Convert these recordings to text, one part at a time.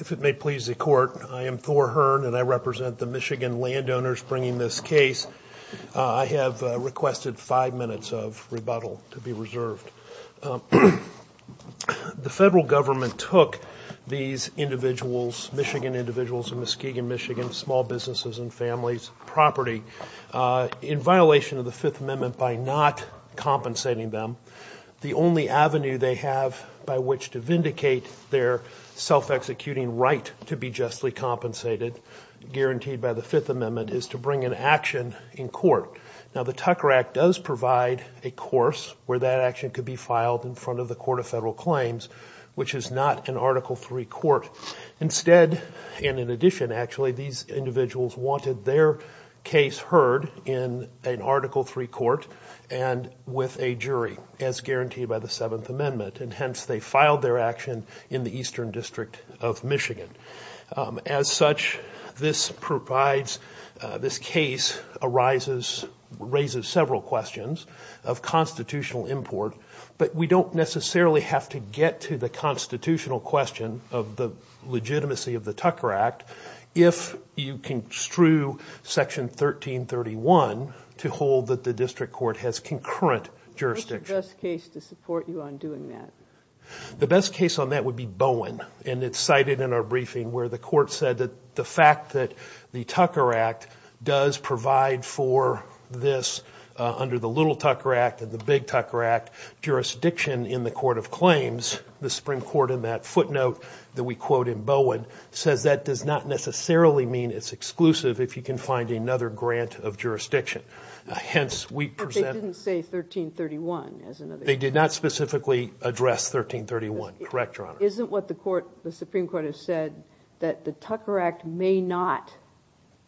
If it may please the court, I am Thor Hearn, and I represent the Michigan landowners bringing this case. I have requested five minutes of rebuttal to be reserved. The federal government took these individuals, Michigan individuals in Muskegon, Michigan, small businesses and families' property in violation of the Fifth Amendment by not compensating them. The only avenue they have by which to vindicate their self-executing right to be justly compensated, guaranteed by the Fifth Amendment, is to bring an action in court. Now, the Tucker Act does provide a course where that action could be filed in front of the Court of Federal Claims, which is not an Article III court. Instead, and in addition, actually, these individuals wanted their case heard in an Article III court and with a jury, as guaranteed by the Seventh Amendment, and hence they filed their action in the Eastern District of Michigan. As such, this provides, this case arises, raises several questions of constitutional import, but we don't necessarily have to get to the constitutional question of the legitimacy of the Tucker Act if you construe Section 1331 to hold that the district court has concurrent jurisdiction. What's the best case to support you on doing that? The best case on that would be Bowen, and it's cited in our briefing where the court said that the fact that the Tucker Act does provide for this, under the Little Tucker Act and the Big Tucker Act, jurisdiction in the Court of Claims, the Supreme Court in that footnote that we quote in Bowen, says that does not necessarily mean it's exclusive if you can find another grant of jurisdiction. Hence, we present... But they didn't say 1331 as another... They did not specifically address 1331. Correct, Your Honor. Isn't what the Supreme Court has said that the Tucker Act may not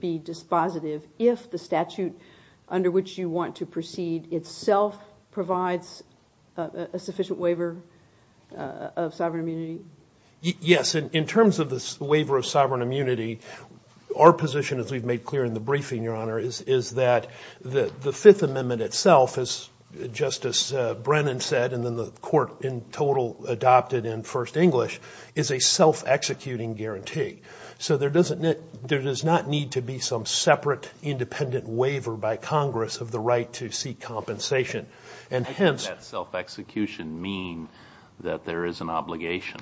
be dispositive if the statute under which you want to proceed itself provides a sufficient waiver of sovereign immunity? Yes, in terms of this waiver of sovereign immunity, our position as we've made clear in the briefing, Your Honor, is that the Fifth Amendment itself, as Justice Brennan said, and then the court in total adopted in First English, is a self-executing guarantee. So, there does not need to be some separate independent waiver by Congress of the right to seek compensation. And hence... How does that self-execution mean that there is an obligation?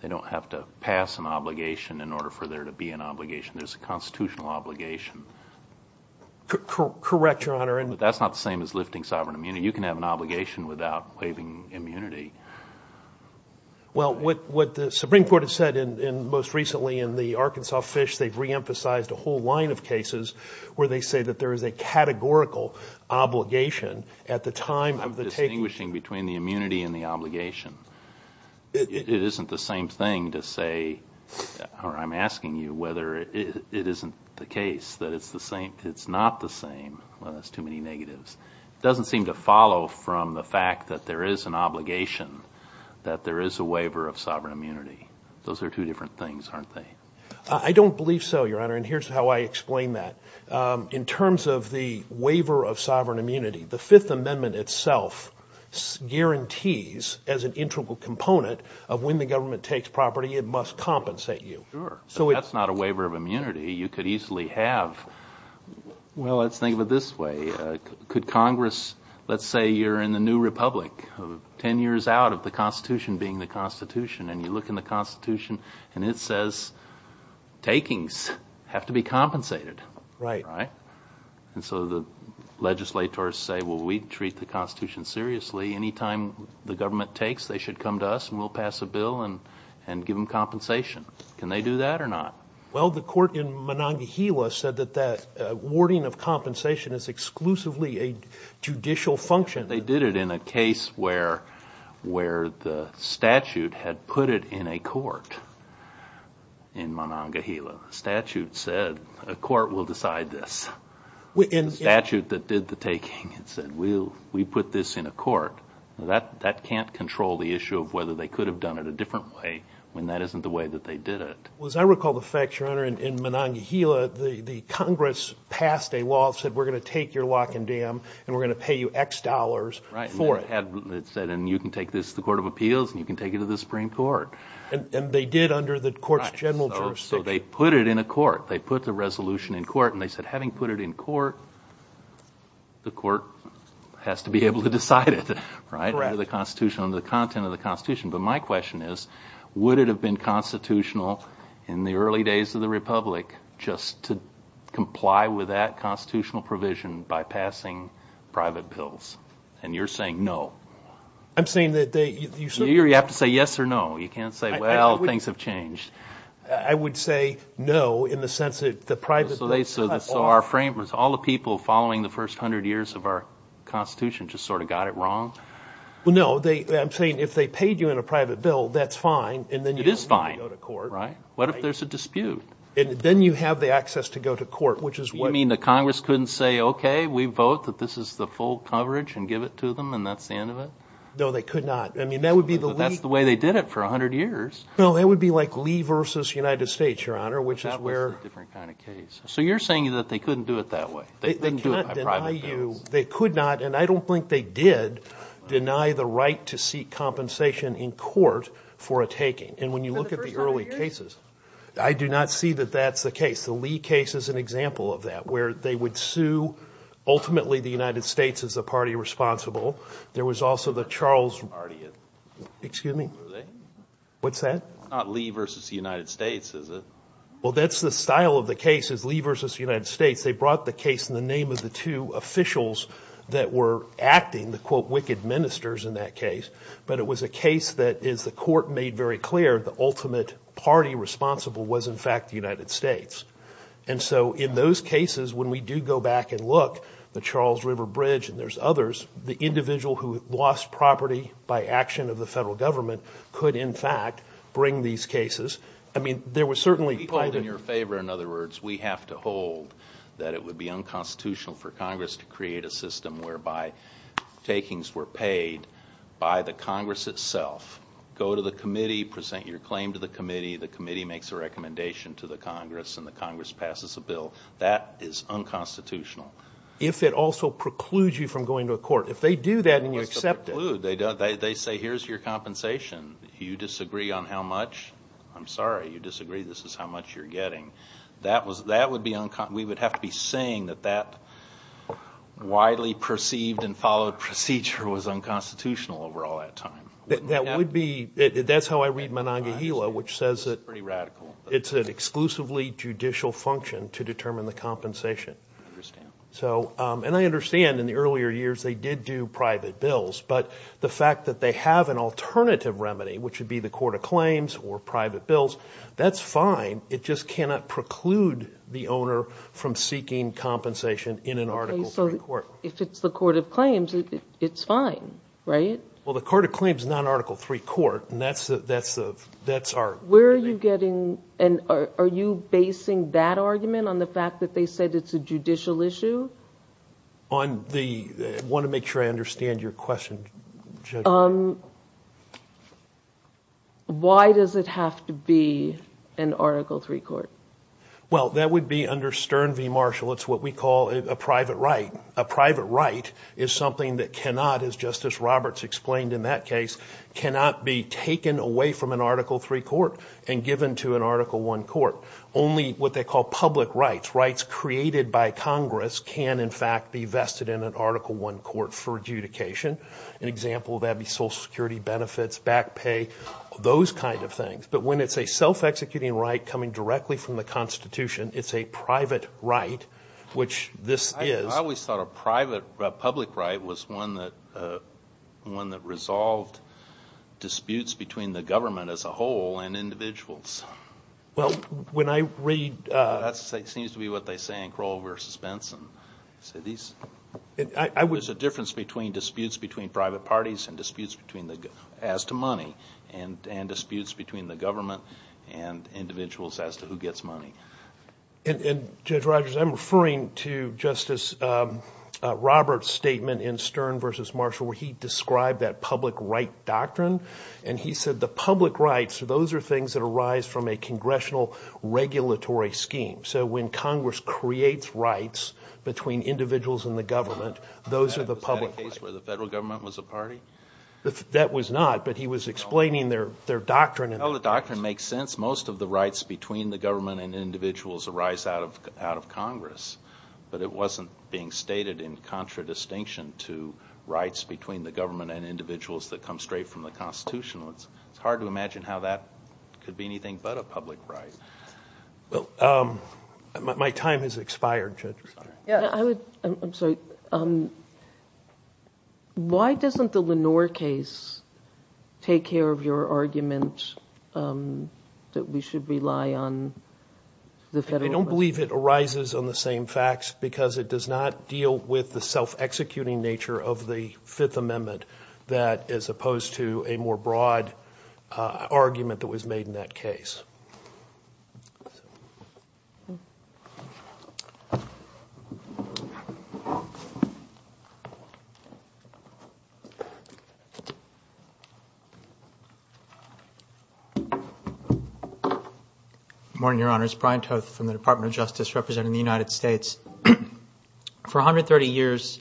They don't have to pass an obligation in order for there to be an obligation. There's a constitutional obligation. Correct, Your Honor. But that's not the same as lifting sovereign immunity. You can have an obligation without waiving immunity. Well, what the Supreme Court has said most recently in the Arkansas Fish, they've reemphasized a whole line of cases where they say that there is a categorical obligation at the time of the taking... I'm distinguishing between the immunity and the obligation. It isn't the same thing to say, or I'm asking you whether it isn't the case that it's the same... It's not the same. Well, that's too many negatives. It doesn't seem to follow from the fact that there is an obligation, that there is a waiver of sovereign immunity. Those are two different things, aren't they? I don't believe so, Your Honor, and here's how I explain that. In terms of the waiver of sovereign immunity, the Fifth Amendment itself guarantees, as an integral component of when the government takes property, it must compensate you. Sure, but that's not a waiver of immunity. You could easily have... Well, let's think of it this way. Could Congress... Let's say you're in the new republic, ten years out of the Constitution being the Constitution, and you look in the Constitution, and it says takings have to be compensated. Right. And so the legislators say, well, we treat the Constitution seriously. Anytime the government takes, they should come to us, and we'll pass a bill and give them compensation. Can they do that or not? Well, the court in Monongahela said that that awarding of compensation is exclusively a judicial function. They did it in a case where the statute had put it in a court in Monongahela. The statute said, a court will decide this. The statute that did the taking said, we put this in a court. That can't control the issue of whether they could have done it a different way when that isn't the way that they did it. Well, as I recall the fact, Your Honor, in Monongahela, the Congress passed a law that said, we're going to take your lock and dam, and we're going to pay you X dollars for it. Right, and it said, and you can take this to the Court of Appeals, and you can take it to the Supreme Court. And they did under the court's general jurisdiction. Right, so they put it in a court. They put the resolution in court. And they said, having put it in court, the court has to be able to decide it, right, under the Constitution, under the content of the Constitution. But my question is, would it have been constitutional in the early days of the Republic just to comply with that constitutional provision by passing private bills? And you're saying no. I'm saying that they – You have to say yes or no. You can't say, well, things have changed. I would say no, in the sense that the private bill – So they – so our frame was all the people following the first hundred years of our Constitution just sort of got it wrong? Well, no, they – I'm saying if they paid you in a private bill, that's fine, and then you don't need to go to court. It is fine, right? What if there's a dispute? And then you have the access to go to court, which is what – You mean the Congress couldn't say, okay, we vote that this is the full coverage and give it to them, and that's the end of it? No, they could not. I mean, that would be the – But that's the way they did it for a hundred years. Well, that would be like Lee versus United States, Your Honor, which is where – That was a different kind of case. So you're saying that they couldn't do it that way? They couldn't do it by private bills? They cannot deny you – they could not, and I don't think they did, deny the right to seek compensation in court for a taking. And when you look at the early cases – For the first hundred years? I do not see that that's the case. The Lee case is an example of that, where they would sue, ultimately, the United States as the party responsible. There was also the Charles – Excuse me? Were they? What's that? It's not Lee versus the United States, is it? Well, that's the style of the case, is Lee versus the United States. They brought the case in the name of the two officials that were acting, the, quote, wicked ministers in that case. But it was a case that, as the court made very clear, the ultimate party responsible was, in fact, the United States. And so in those cases, when we do go back and look, the Charles River Bridge and there's others, the individual who lost property by action of the federal government could, in fact, bring these cases. I mean, there was certainly – We hold in your favor, in other words, we have to hold that it would be unconstitutional for Congress to create a system whereby takings were paid by the Congress itself. Go to the committee, present your claim to the committee, the committee makes a recommendation to the Congress, and the Congress passes a bill. That is unconstitutional. If it also precludes you from going to a court. If they do that and you accept it – You disagree on how much – I'm sorry, you disagree this is how much you're getting. That would be – we would have to be saying that that widely perceived and followed procedure was unconstitutional over all that time. That would be – that's how I read Monongahela, which says that – It's pretty radical. It's an exclusively judicial function to determine the compensation. I understand. So – and I understand in the earlier years they did do private bills. But the fact that they have an alternative remedy, which would be the Court of Claims or private bills, that's fine. It just cannot preclude the owner from seeking compensation in an Article III court. If it's the Court of Claims, it's fine, right? Well, the Court of Claims is not an Article III court, and that's our – Where are you getting – and are you basing that argument on the fact that they said it's a judicial issue? On the – I want to make sure I understand your question, Judge. Why does it have to be an Article III court? Well, that would be under Stern v. Marshall. It's what we call a private right. A private right is something that cannot, as Justice Roberts explained in that case, cannot be taken away from an Article III court and given to an Article I court. Only what they call public rights, rights created by Congress, can in fact be vested in an Article I court for adjudication. An example of that would be Social Security benefits, back pay, those kind of things. But when it's a self-executing right coming directly from the Constitution, it's a private right, which this is. I always thought a private public right was one that resolved disputes between the government as a whole and individuals. Well, when I read – That seems to be what they say in Crowell v. Benson. There's a difference between disputes between private parties and disputes as to money and disputes between the government and individuals as to who gets money. And, Judge Rogers, I'm referring to Justice Roberts' statement in Stern v. Marshall where he described that public right doctrine, and he said the public rights, those are things that arise from a congressional regulatory scheme. So when Congress creates rights between individuals and the government, those are the public rights. Was that a case where the federal government was a party? That was not, but he was explaining their doctrine. Well, the doctrine makes sense. Most of the rights between the government and individuals arise out of Congress, but it wasn't being stated in contradistinction to rights between the government and individuals that come straight from the Constitution. It's hard to imagine how that could be anything but a public right. Well, my time has expired, Judge Rogers. I'm sorry. Why doesn't the Lenore case take care of your argument that we should rely on the federal government? I don't believe it arises on the same facts because it does not deal with the self-executing nature of the Fifth Amendment that is opposed to a more broad argument that was made in that case. Good morning, Your Honors. Brian Toth from the Department of Justice representing the United States. For 130 years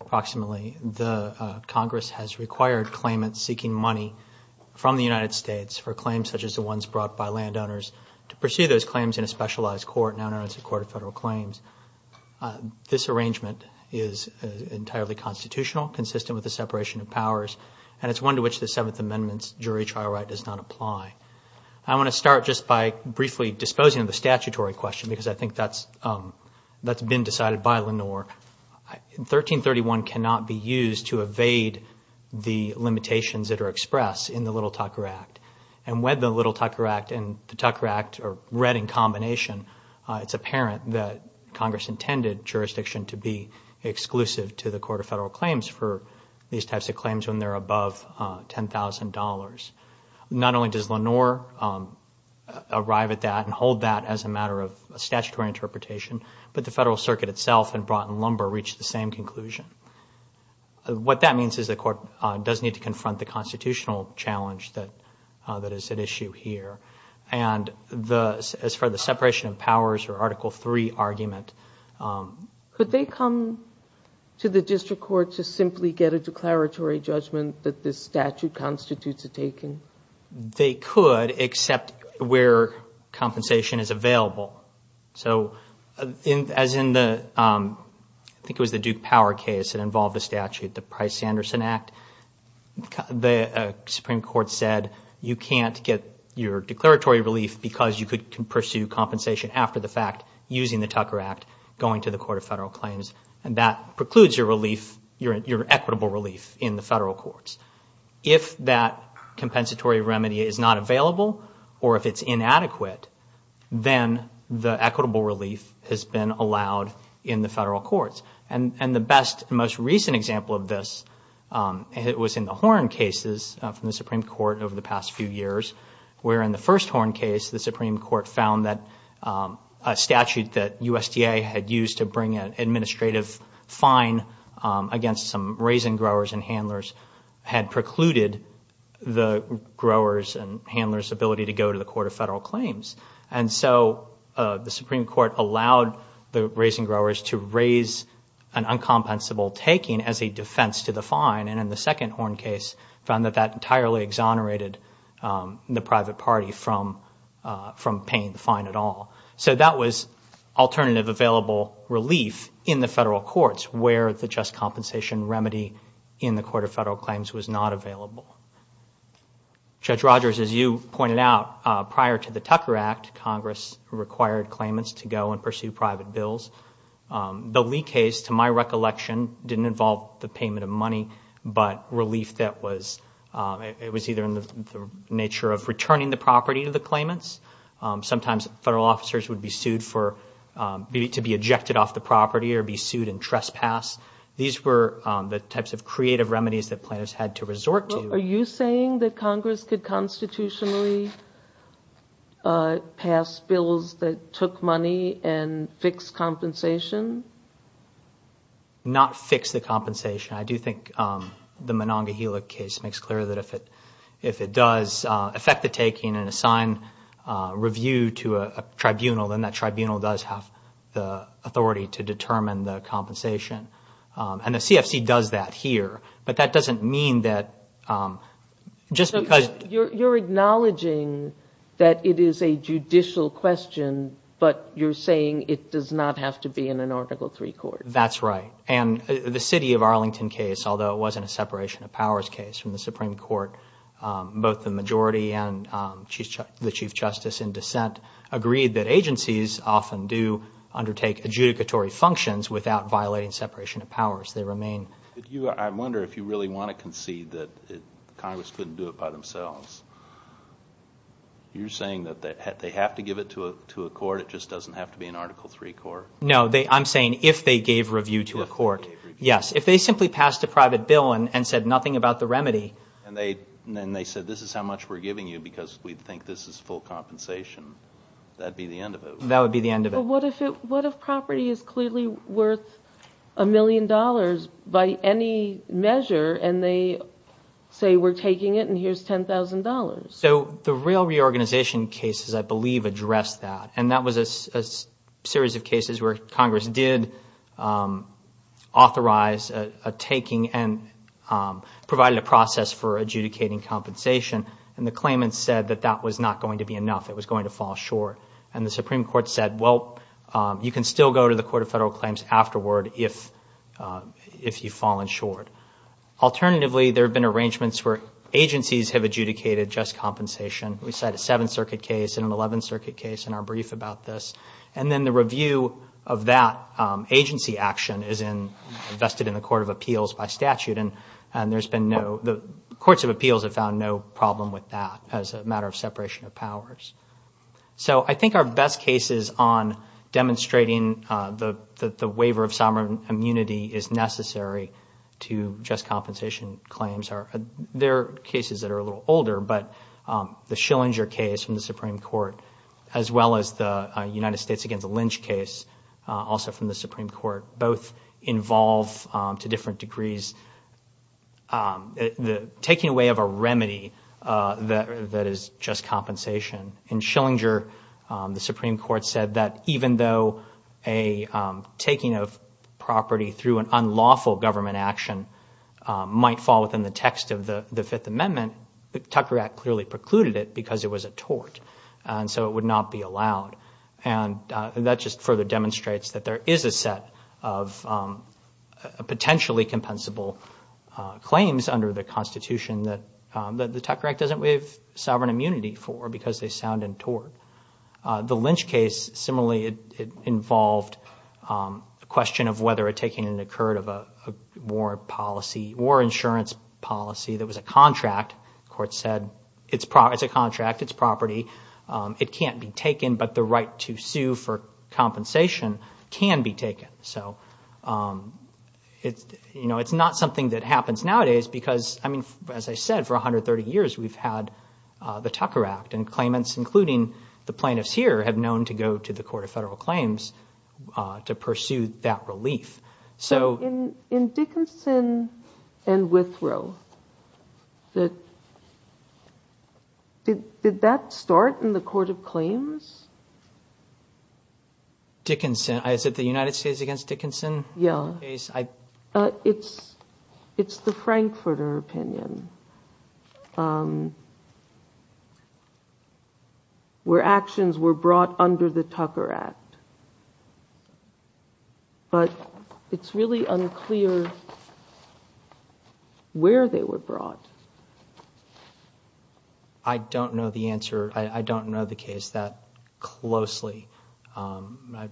approximately, the Congress has required claimants seeking money from the United States for claims such as the ones brought by landowners to pursue those claims in a specialized court, now known as the Court of Federal Claims. This arrangement is entirely constitutional, consistent with the separation of powers, and it's one to which the Seventh Amendment's jury trial right does not apply. I want to start just by briefly disposing of the statutory question because I think that's been decided by Lenore. 1331 cannot be used to evade the limitations that are expressed in the Little Tucker Act, and when the Little Tucker Act and the Tucker Act are read in combination, it's apparent that Congress intended jurisdiction to be exclusive to the Court of Federal Claims for these types of claims when they're above $10,000. Not only does Lenore arrive at that and hold that as a matter of statutory interpretation, but the Federal Circuit itself and Broughton Lumber reached the same conclusion. What that means is the court does need to confront the constitutional challenge that is at issue here, and as far as the separation of powers or Article III argument. Could they come to the district court to simply get a declaratory judgment that this statute constitutes a taken? They could except where compensation is available. So as in the Duke Power case that involved a statute, the Price-Anderson Act, the Supreme Court said you can't get your declaratory relief because you could pursue compensation after the fact using the Tucker Act going to the Court of Federal Claims, and that precludes your equitable relief in the federal courts. If that compensatory remedy is not available or if it's inadequate, then the equitable relief has been allowed in the federal courts. And the best and most recent example of this was in the Horn cases from the Supreme Court over the past few years, where in the first Horn case, the Supreme Court found that a statute that USDA had used to bring an administrative fine against some raisin growers and handlers had precluded the growers' and handlers' ability to go to the Court of Federal Claims. And so the Supreme Court allowed the raisin growers to raise an uncompensable taking as a defense to the fine, and in the second Horn case found that that entirely exonerated the private party from paying the fine at all. So that was alternative available relief in the federal courts where the just compensation remedy in the Court of Federal Claims was not available. Judge Rogers, as you pointed out, prior to the Tucker Act, Congress required claimants to go and pursue private bills. The Lee case, to my recollection, didn't involve the payment of money, but relief that was either in the nature of returning the property to the claimants. Sometimes federal officers would be sued for to be ejected off the property or be sued in trespass. These were the types of creative remedies that plaintiffs had to resort to. Are you saying that Congress could constitutionally pass bills that took money and fix compensation? Not fix the compensation. I do think the Monongahela case makes clear that if it does affect the taking and assign review to a tribunal, then that tribunal does have the authority to determine the compensation. And the CFC does that here, but that doesn't mean that just because- You're acknowledging that it is a judicial question, but you're saying it does not have to be in an Article III court. That's right. And the city of Arlington case, although it wasn't a separation of powers case from the Supreme Court, both the majority and the Chief Justice in dissent agreed that agencies often do undertake adjudicatory functions without violating separation of powers. I wonder if you really want to concede that Congress couldn't do it by themselves. You're saying that they have to give it to a court, it just doesn't have to be an Article III court? No, I'm saying if they gave review to a court. Yes, if they simply passed a private bill and said nothing about the remedy- And they said this is how much we're giving you because we think this is full compensation. That would be the end of it. That would be the end of it. But what if property is clearly worth a million dollars by any measure, and they say we're taking it and here's $10,000? So the rail reorganization cases, I believe, address that. And that was a series of cases where Congress did authorize a taking and provided a process for adjudicating compensation. And the claimants said that that was not going to be enough. It was going to fall short. And the Supreme Court said, well, you can still go to the Court of Federal Claims afterward if you've fallen short. Alternatively, there have been arrangements where agencies have adjudicated just compensation. We cite a Seventh Circuit case and an Eleventh Circuit case in our brief about this. And then the review of that agency action is invested in the Court of Appeals by statute, and the Courts of Appeals have found no problem with that as a matter of separation of powers. So I think our best cases on demonstrating the waiver of sovereign immunity is necessary to just compensation claims. There are cases that are a little older, but the Schillinger case from the Supreme Court, as well as the United States against the lynch case, also from the Supreme Court, both involve, to different degrees, taking away of a remedy that is just compensation. In Schillinger, the Supreme Court said that even though a taking of property through an unlawful government action might fall within the text of the Fifth Amendment, the Tucker Act clearly precluded it because it was a tort, and that just further demonstrates that there is a set of potentially compensable claims under the Constitution that the Tucker Act doesn't waive sovereign immunity for because they sound in tort. The lynch case, similarly, it involved a question of whether a taking had occurred of a war policy, war insurance policy that was a contract. The Court said it's a contract, it's property. It can't be taken, but the right to sue for compensation can be taken. So it's not something that happens nowadays because, as I said, for 130 years we've had the Tucker Act, and claimants, including the plaintiffs here, have known to go to the Court of Federal Claims to pursue that relief. So in Dickinson and Withrow, did that start in the Court of Claims? Dickinson? Is it the United States against Dickinson case? Yeah. It's the Frankfurter opinion, where actions were brought under the Tucker Act. But it's really unclear where they were brought. I don't know the answer. I don't know the case that closely. I'd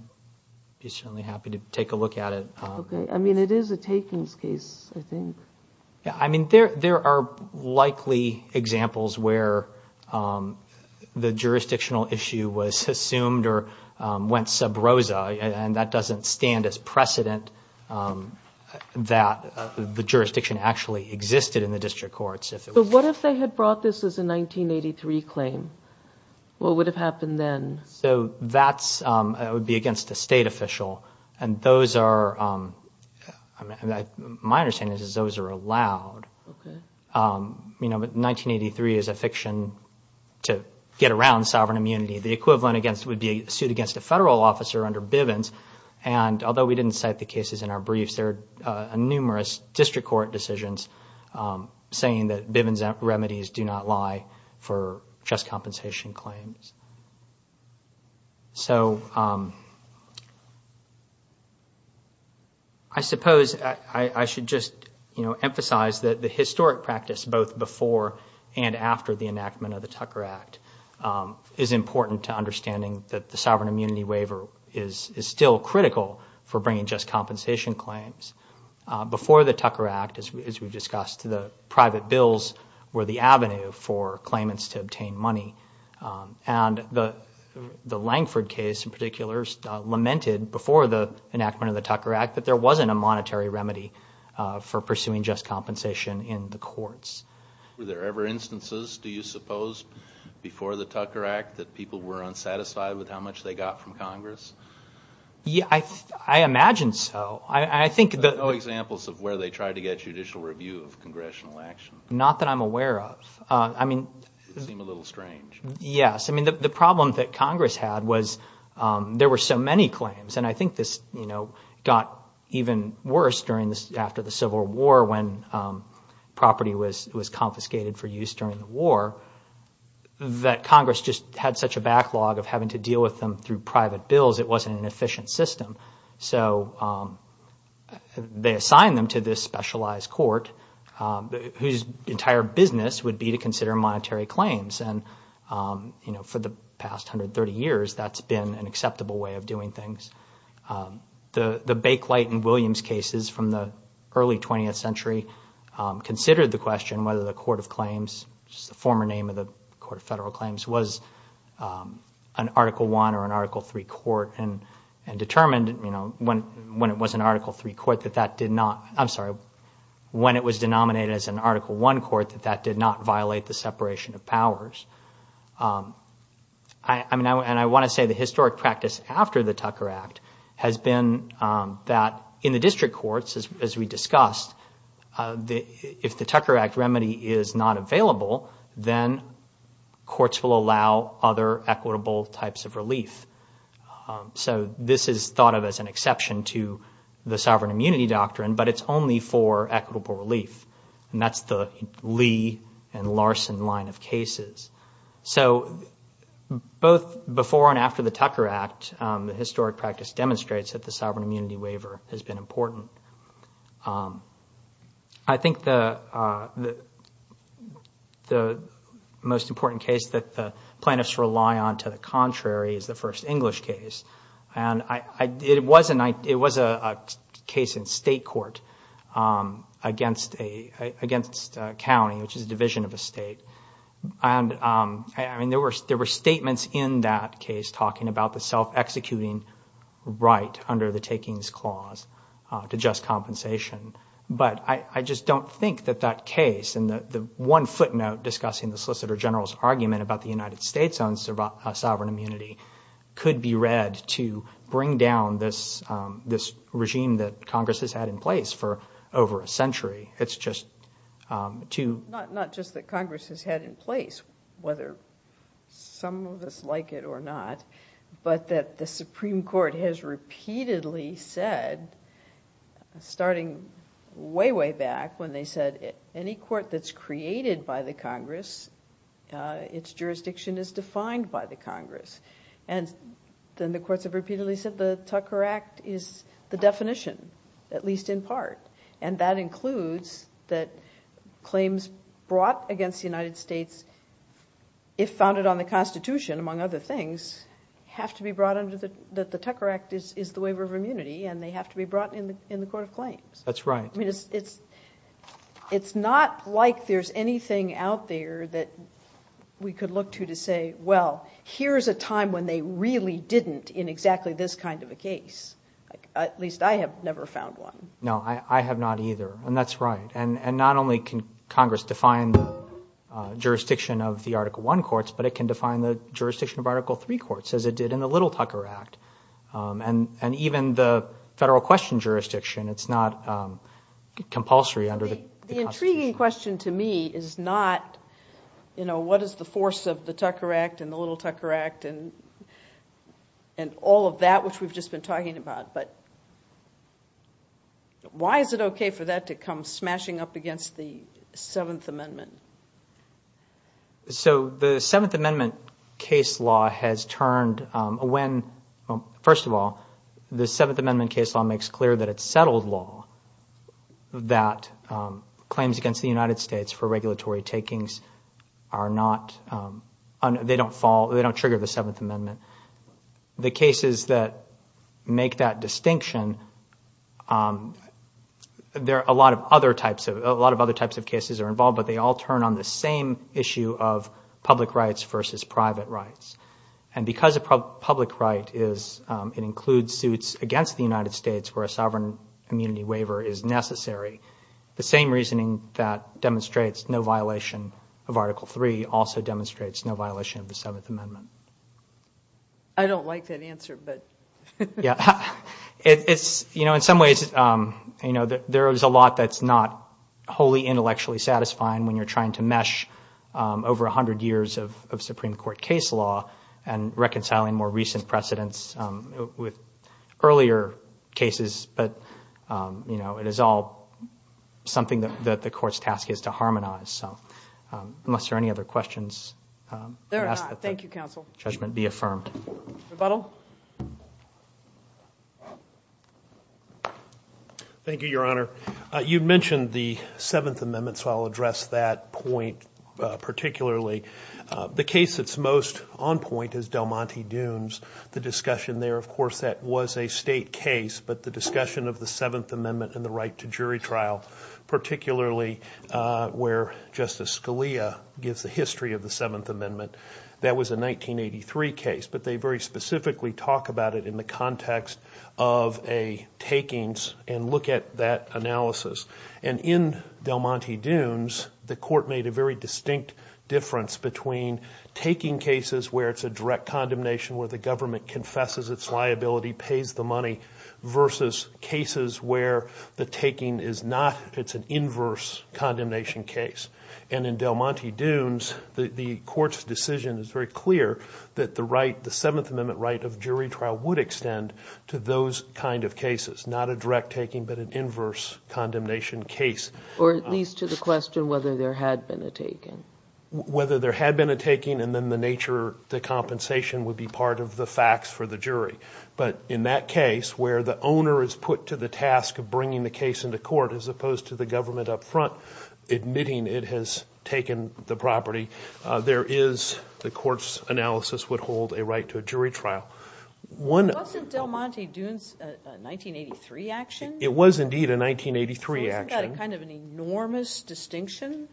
be certainly happy to take a look at it. Okay. I mean, it is a takings case, I think. I mean, there are likely examples where the jurisdictional issue was assumed or went sub rosa, and that doesn't stand as precedent that the jurisdiction actually existed in the district courts. But what if they had brought this as a 1983 claim? What would have happened then? So that would be against a state official, and my understanding is those are allowed. You know, but 1983 is a fiction to get around sovereign immunity. The equivalent would be sued against a federal officer under Bivens, and although we didn't cite the cases in our briefs, there are numerous district court decisions saying that Bivens remedies do not lie for just compensation claims. So I suppose I should just emphasize that the historic practice, both before and after the enactment of the Tucker Act, is important to understanding that the sovereign immunity waiver is still critical for bringing just compensation claims. Before the Tucker Act, as we've discussed, the private bills were the avenue for claimants to obtain money, and the Langford case in particular lamented before the enactment of the Tucker Act that there wasn't a monetary remedy for pursuing just compensation in the courts. Were there ever instances, do you suppose, before the Tucker Act, that people were unsatisfied with how much they got from Congress? Yeah, I imagine so. I think that... No examples of where they tried to get judicial review of congressional action. Not that I'm aware of. I mean... It seemed a little strange. Yes. I mean, the problem that Congress had was there were so many claims, and I think this, you know, got even worse after the Civil War when property was confiscated for use during the war, that Congress just had such a backlog of having to deal with them through private bills, it wasn't an efficient system. So, they assigned them to this specialized court, whose entire business would be to consider monetary claims. And, you know, for the past 130 years, that's been an acceptable way of doing things. The Bakelite and Williams cases from the early 20th century considered the question whether the Court of Claims, which is the former name of the Court of Federal Claims, was an Article I or an Article III court, and determined, you know, when it was an Article III court that that did not... I'm sorry, when it was denominated as an Article I court, that that did not violate the separation of powers. I mean, and I want to say the historic practice after the Tucker Act has been that in the district courts, as we discussed, if the Tucker Act remedy is not available, then courts will allow other equitable types of relief. So, this is thought of as an exception to the sovereign immunity doctrine, but it's only for equitable relief. And that's the Lee and Larson line of cases. So, both before and after the Tucker Act, the historic practice demonstrates that the sovereign immunity waiver has been important. I think the most important case that the plaintiffs rely on to the contrary is the first English case. And it was a case in state court against a county, which is a division of a state. And, I mean, there were statements in that case talking about the self-executing right under the takings clause to just compensation. But I just don't think that that case, and the one footnote discussing the Solicitor General's argument about the United States' own sovereign immunity, could be read to bring down this regime that Congress has had in place for over a century. It's just too... But that the Supreme Court has repeatedly said, starting way, way back when they said, any court that's created by the Congress, its jurisdiction is defined by the Congress. And then the courts have repeatedly said the Tucker Act is the definition, at least in part. And that includes that claims brought against the United States, if founded on the Constitution, among other things, have to be brought under the Tucker Act is the waiver of immunity, and they have to be brought in the court of claims. That's right. I mean, it's not like there's anything out there that we could look to to say, well, here's a time when they really didn't in exactly this kind of a case. At least I have never found one. No, I have not either. And that's right. And not only can Congress define the jurisdiction of the Article I courts, but it can define the jurisdiction of Article III courts, as it did in the Little Tucker Act. And even the federal question jurisdiction, it's not compulsory under the Constitution. The intriguing question to me is not, you know, what is the force of the Tucker Act and the Little Tucker Act and all of that, which we've just been talking about. But why is it okay for that to come smashing up against the Seventh Amendment? So the Seventh Amendment case law has turned when, first of all, the Seventh Amendment case law makes clear that it's settled law, that claims against the United States for regulatory takings are not, they don't fall, they don't trigger the Seventh Amendment. The cases that make that distinction, there are a lot of other types of cases that are involved, but they all turn on the same issue of public rights versus private rights. And because a public right is, it includes suits against the United States where a sovereign immunity waiver is necessary, the same reasoning that demonstrates no violation of Article III also demonstrates no violation of the Seventh Amendment. I don't like that answer, but. Yeah, it's, you know, in some ways, you know, there is a lot that's not wholly intellectually satisfying when you're trying to mesh over 100 years of Supreme Court case law and reconciling more recent precedents with earlier cases. But, you know, it is all something that the court's task is to harmonize. So unless there are any other questions. There are not. Thank you, Counsel. Judgment be affirmed. Rebuttal. Thank you, Your Honor. You mentioned the Seventh Amendment, so I'll address that point particularly. The case that's most on point is Del Monte Dunes. The discussion there, of course, that was a state case, but the discussion of the Seventh Amendment and the right to jury trial, particularly where Justice Scalia gives the history of the Seventh Amendment, that was a 1983 case. But they very specifically talk about it in the context of a takings and look at that analysis. And in Del Monte Dunes, the court made a very distinct difference between taking cases where it's a direct condemnation where the government confesses its liability, pays the money, versus cases where the taking is not, it's an inverse condemnation case. And in Del Monte Dunes, the court's decision is very clear that the right, the Seventh Amendment right of jury trial would extend to those kind of cases, not a direct taking, but an inverse condemnation case. Or at least to the question whether there had been a taking. Whether there had been a taking and then the nature, the compensation would be part of the facts for the jury. But in that case, where the owner is put to the task of bringing the case into court as opposed to the government up front admitting it has taken the property, there is the court's analysis would hold a right to a jury trial. Wasn't Del Monte Dunes a 1983 action? It was indeed a 1983 action. Wasn't that kind of an enormous distinction?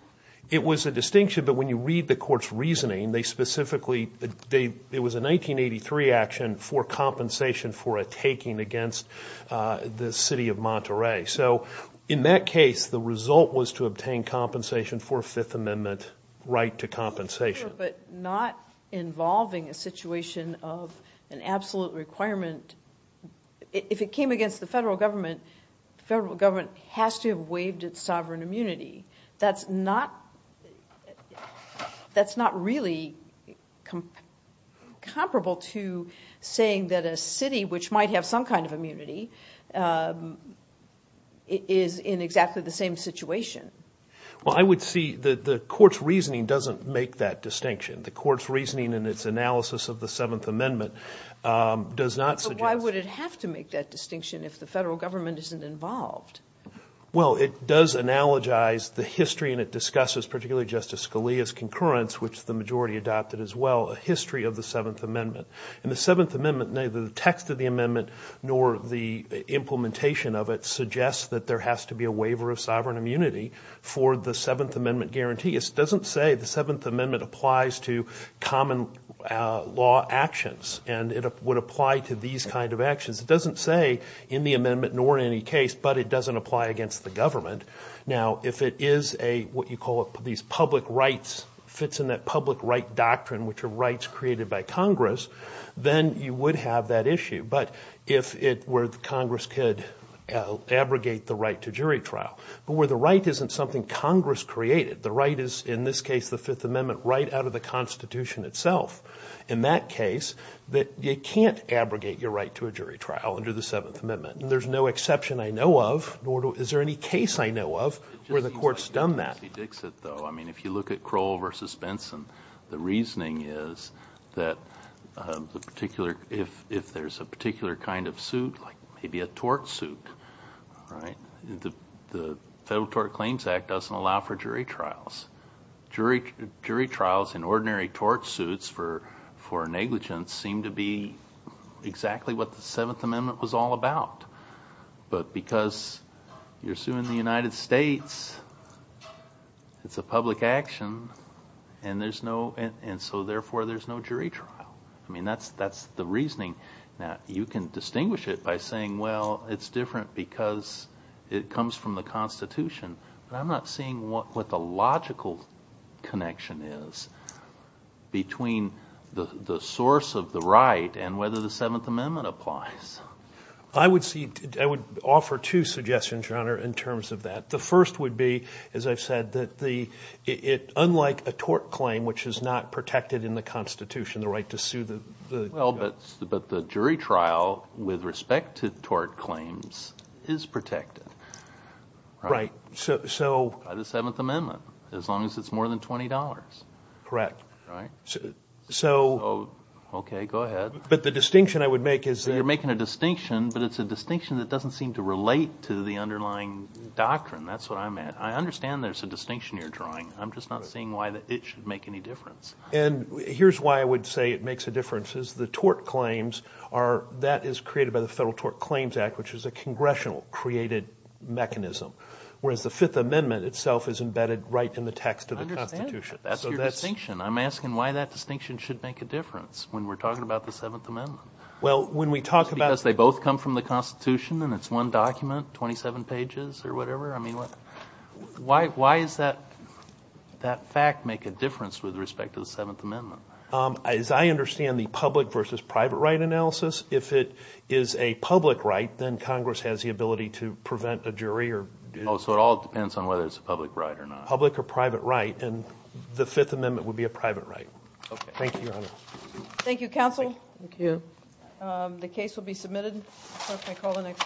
It was a distinction, but when you read the court's reasoning, they specifically, it was a 1983 action for compensation for a taking against the city of Monterey. So in that case, the result was to obtain compensation for Fifth Amendment right to compensation. But not involving a situation of an absolute requirement. If it came against the federal government, the federal government has to have waived its sovereign immunity. That's not really comparable to saying that a city, which might have some kind of immunity, is in exactly the same situation. Well, I would see the court's reasoning doesn't make that distinction. The court's reasoning in its analysis of the Seventh Amendment does not. Why would it have to make that distinction if the federal government isn't involved? Well, it does analogize the history, and it discusses particularly Justice Scalia's concurrence, which the majority adopted as well, a history of the Seventh Amendment. In the Seventh Amendment, neither the text of the amendment nor the implementation of it suggests that there has to be a waiver of sovereign immunity for the Seventh Amendment guarantee. It doesn't say the Seventh Amendment applies to common law actions, and it would apply to these kind of actions. It doesn't say in the amendment nor in any case, but it doesn't apply against the government. Now, if it is a, what you call these public rights, fits in that public right doctrine, which are rights created by Congress, then you would have that issue. But if it were Congress could abrogate the right to jury trial, but where the right isn't something Congress created, the right is in this case, the Fifth Amendment right out of the Constitution itself. In that case, that you can't abrogate your right to a jury trial under the Seventh Amendment. There's no exception I know of, nor is there any case I know of where the court's done that. I mean, if you look at Crowell versus Benson, the reasoning is that the particular, if there's a particular kind of suit, like maybe a tort suit, right? The Federal Tort Claims Act doesn't allow for jury trials. Jury trials in ordinary tort suits for negligence seem to be exactly what the Seventh Amendment was all about. But because you're suing the United States, it's a public action, and so therefore there's no jury trial. I mean, that's the reasoning. Now, you can distinguish it by saying, well, it's different because it comes from the Constitution. But I'm not seeing what the logical connection is between the source of the right and whether the Seventh Amendment applies. I would offer two suggestions, Your Honor, in terms of that. The first would be, as I've said, that unlike a tort claim, which is not protected in the Constitution, the right to sue the- Well, but the jury trial with respect to tort claims is protected. Right. So- By the Seventh Amendment, as long as it's more than $20. Correct. Right? So- Okay, go ahead. But the distinction I would make is- You're making a distinction, but it's a distinction that doesn't seem to relate to the underlying doctrine. That's what I meant. I understand there's a distinction you're drawing. I'm just not seeing why it should make any difference. And here's why I would say it makes a difference, is the tort claims are- that is created by the Federal Tort Claims Act, which is a congressional-created mechanism, whereas the Fifth Amendment itself is embedded right in the text of the Constitution. I understand. That's your distinction. I'm asking why that distinction should make a difference when we're talking about the Seventh Amendment. Well, when we talk about- Because they both come from the Constitution, and it's one document, 27 pages or whatever? I mean, why does that fact make a difference with respect to the Seventh Amendment? As I understand the public versus private right analysis, if it is a public right, then Congress has the ability to prevent a jury or- Oh, so it all depends on whether it's a public right or not. Public or private right. And the Fifth Amendment would be a private right. Okay. Thank you, Your Honor. Thank you, Counsel. Thank you. The case will be submitted. Clerk may call the next case.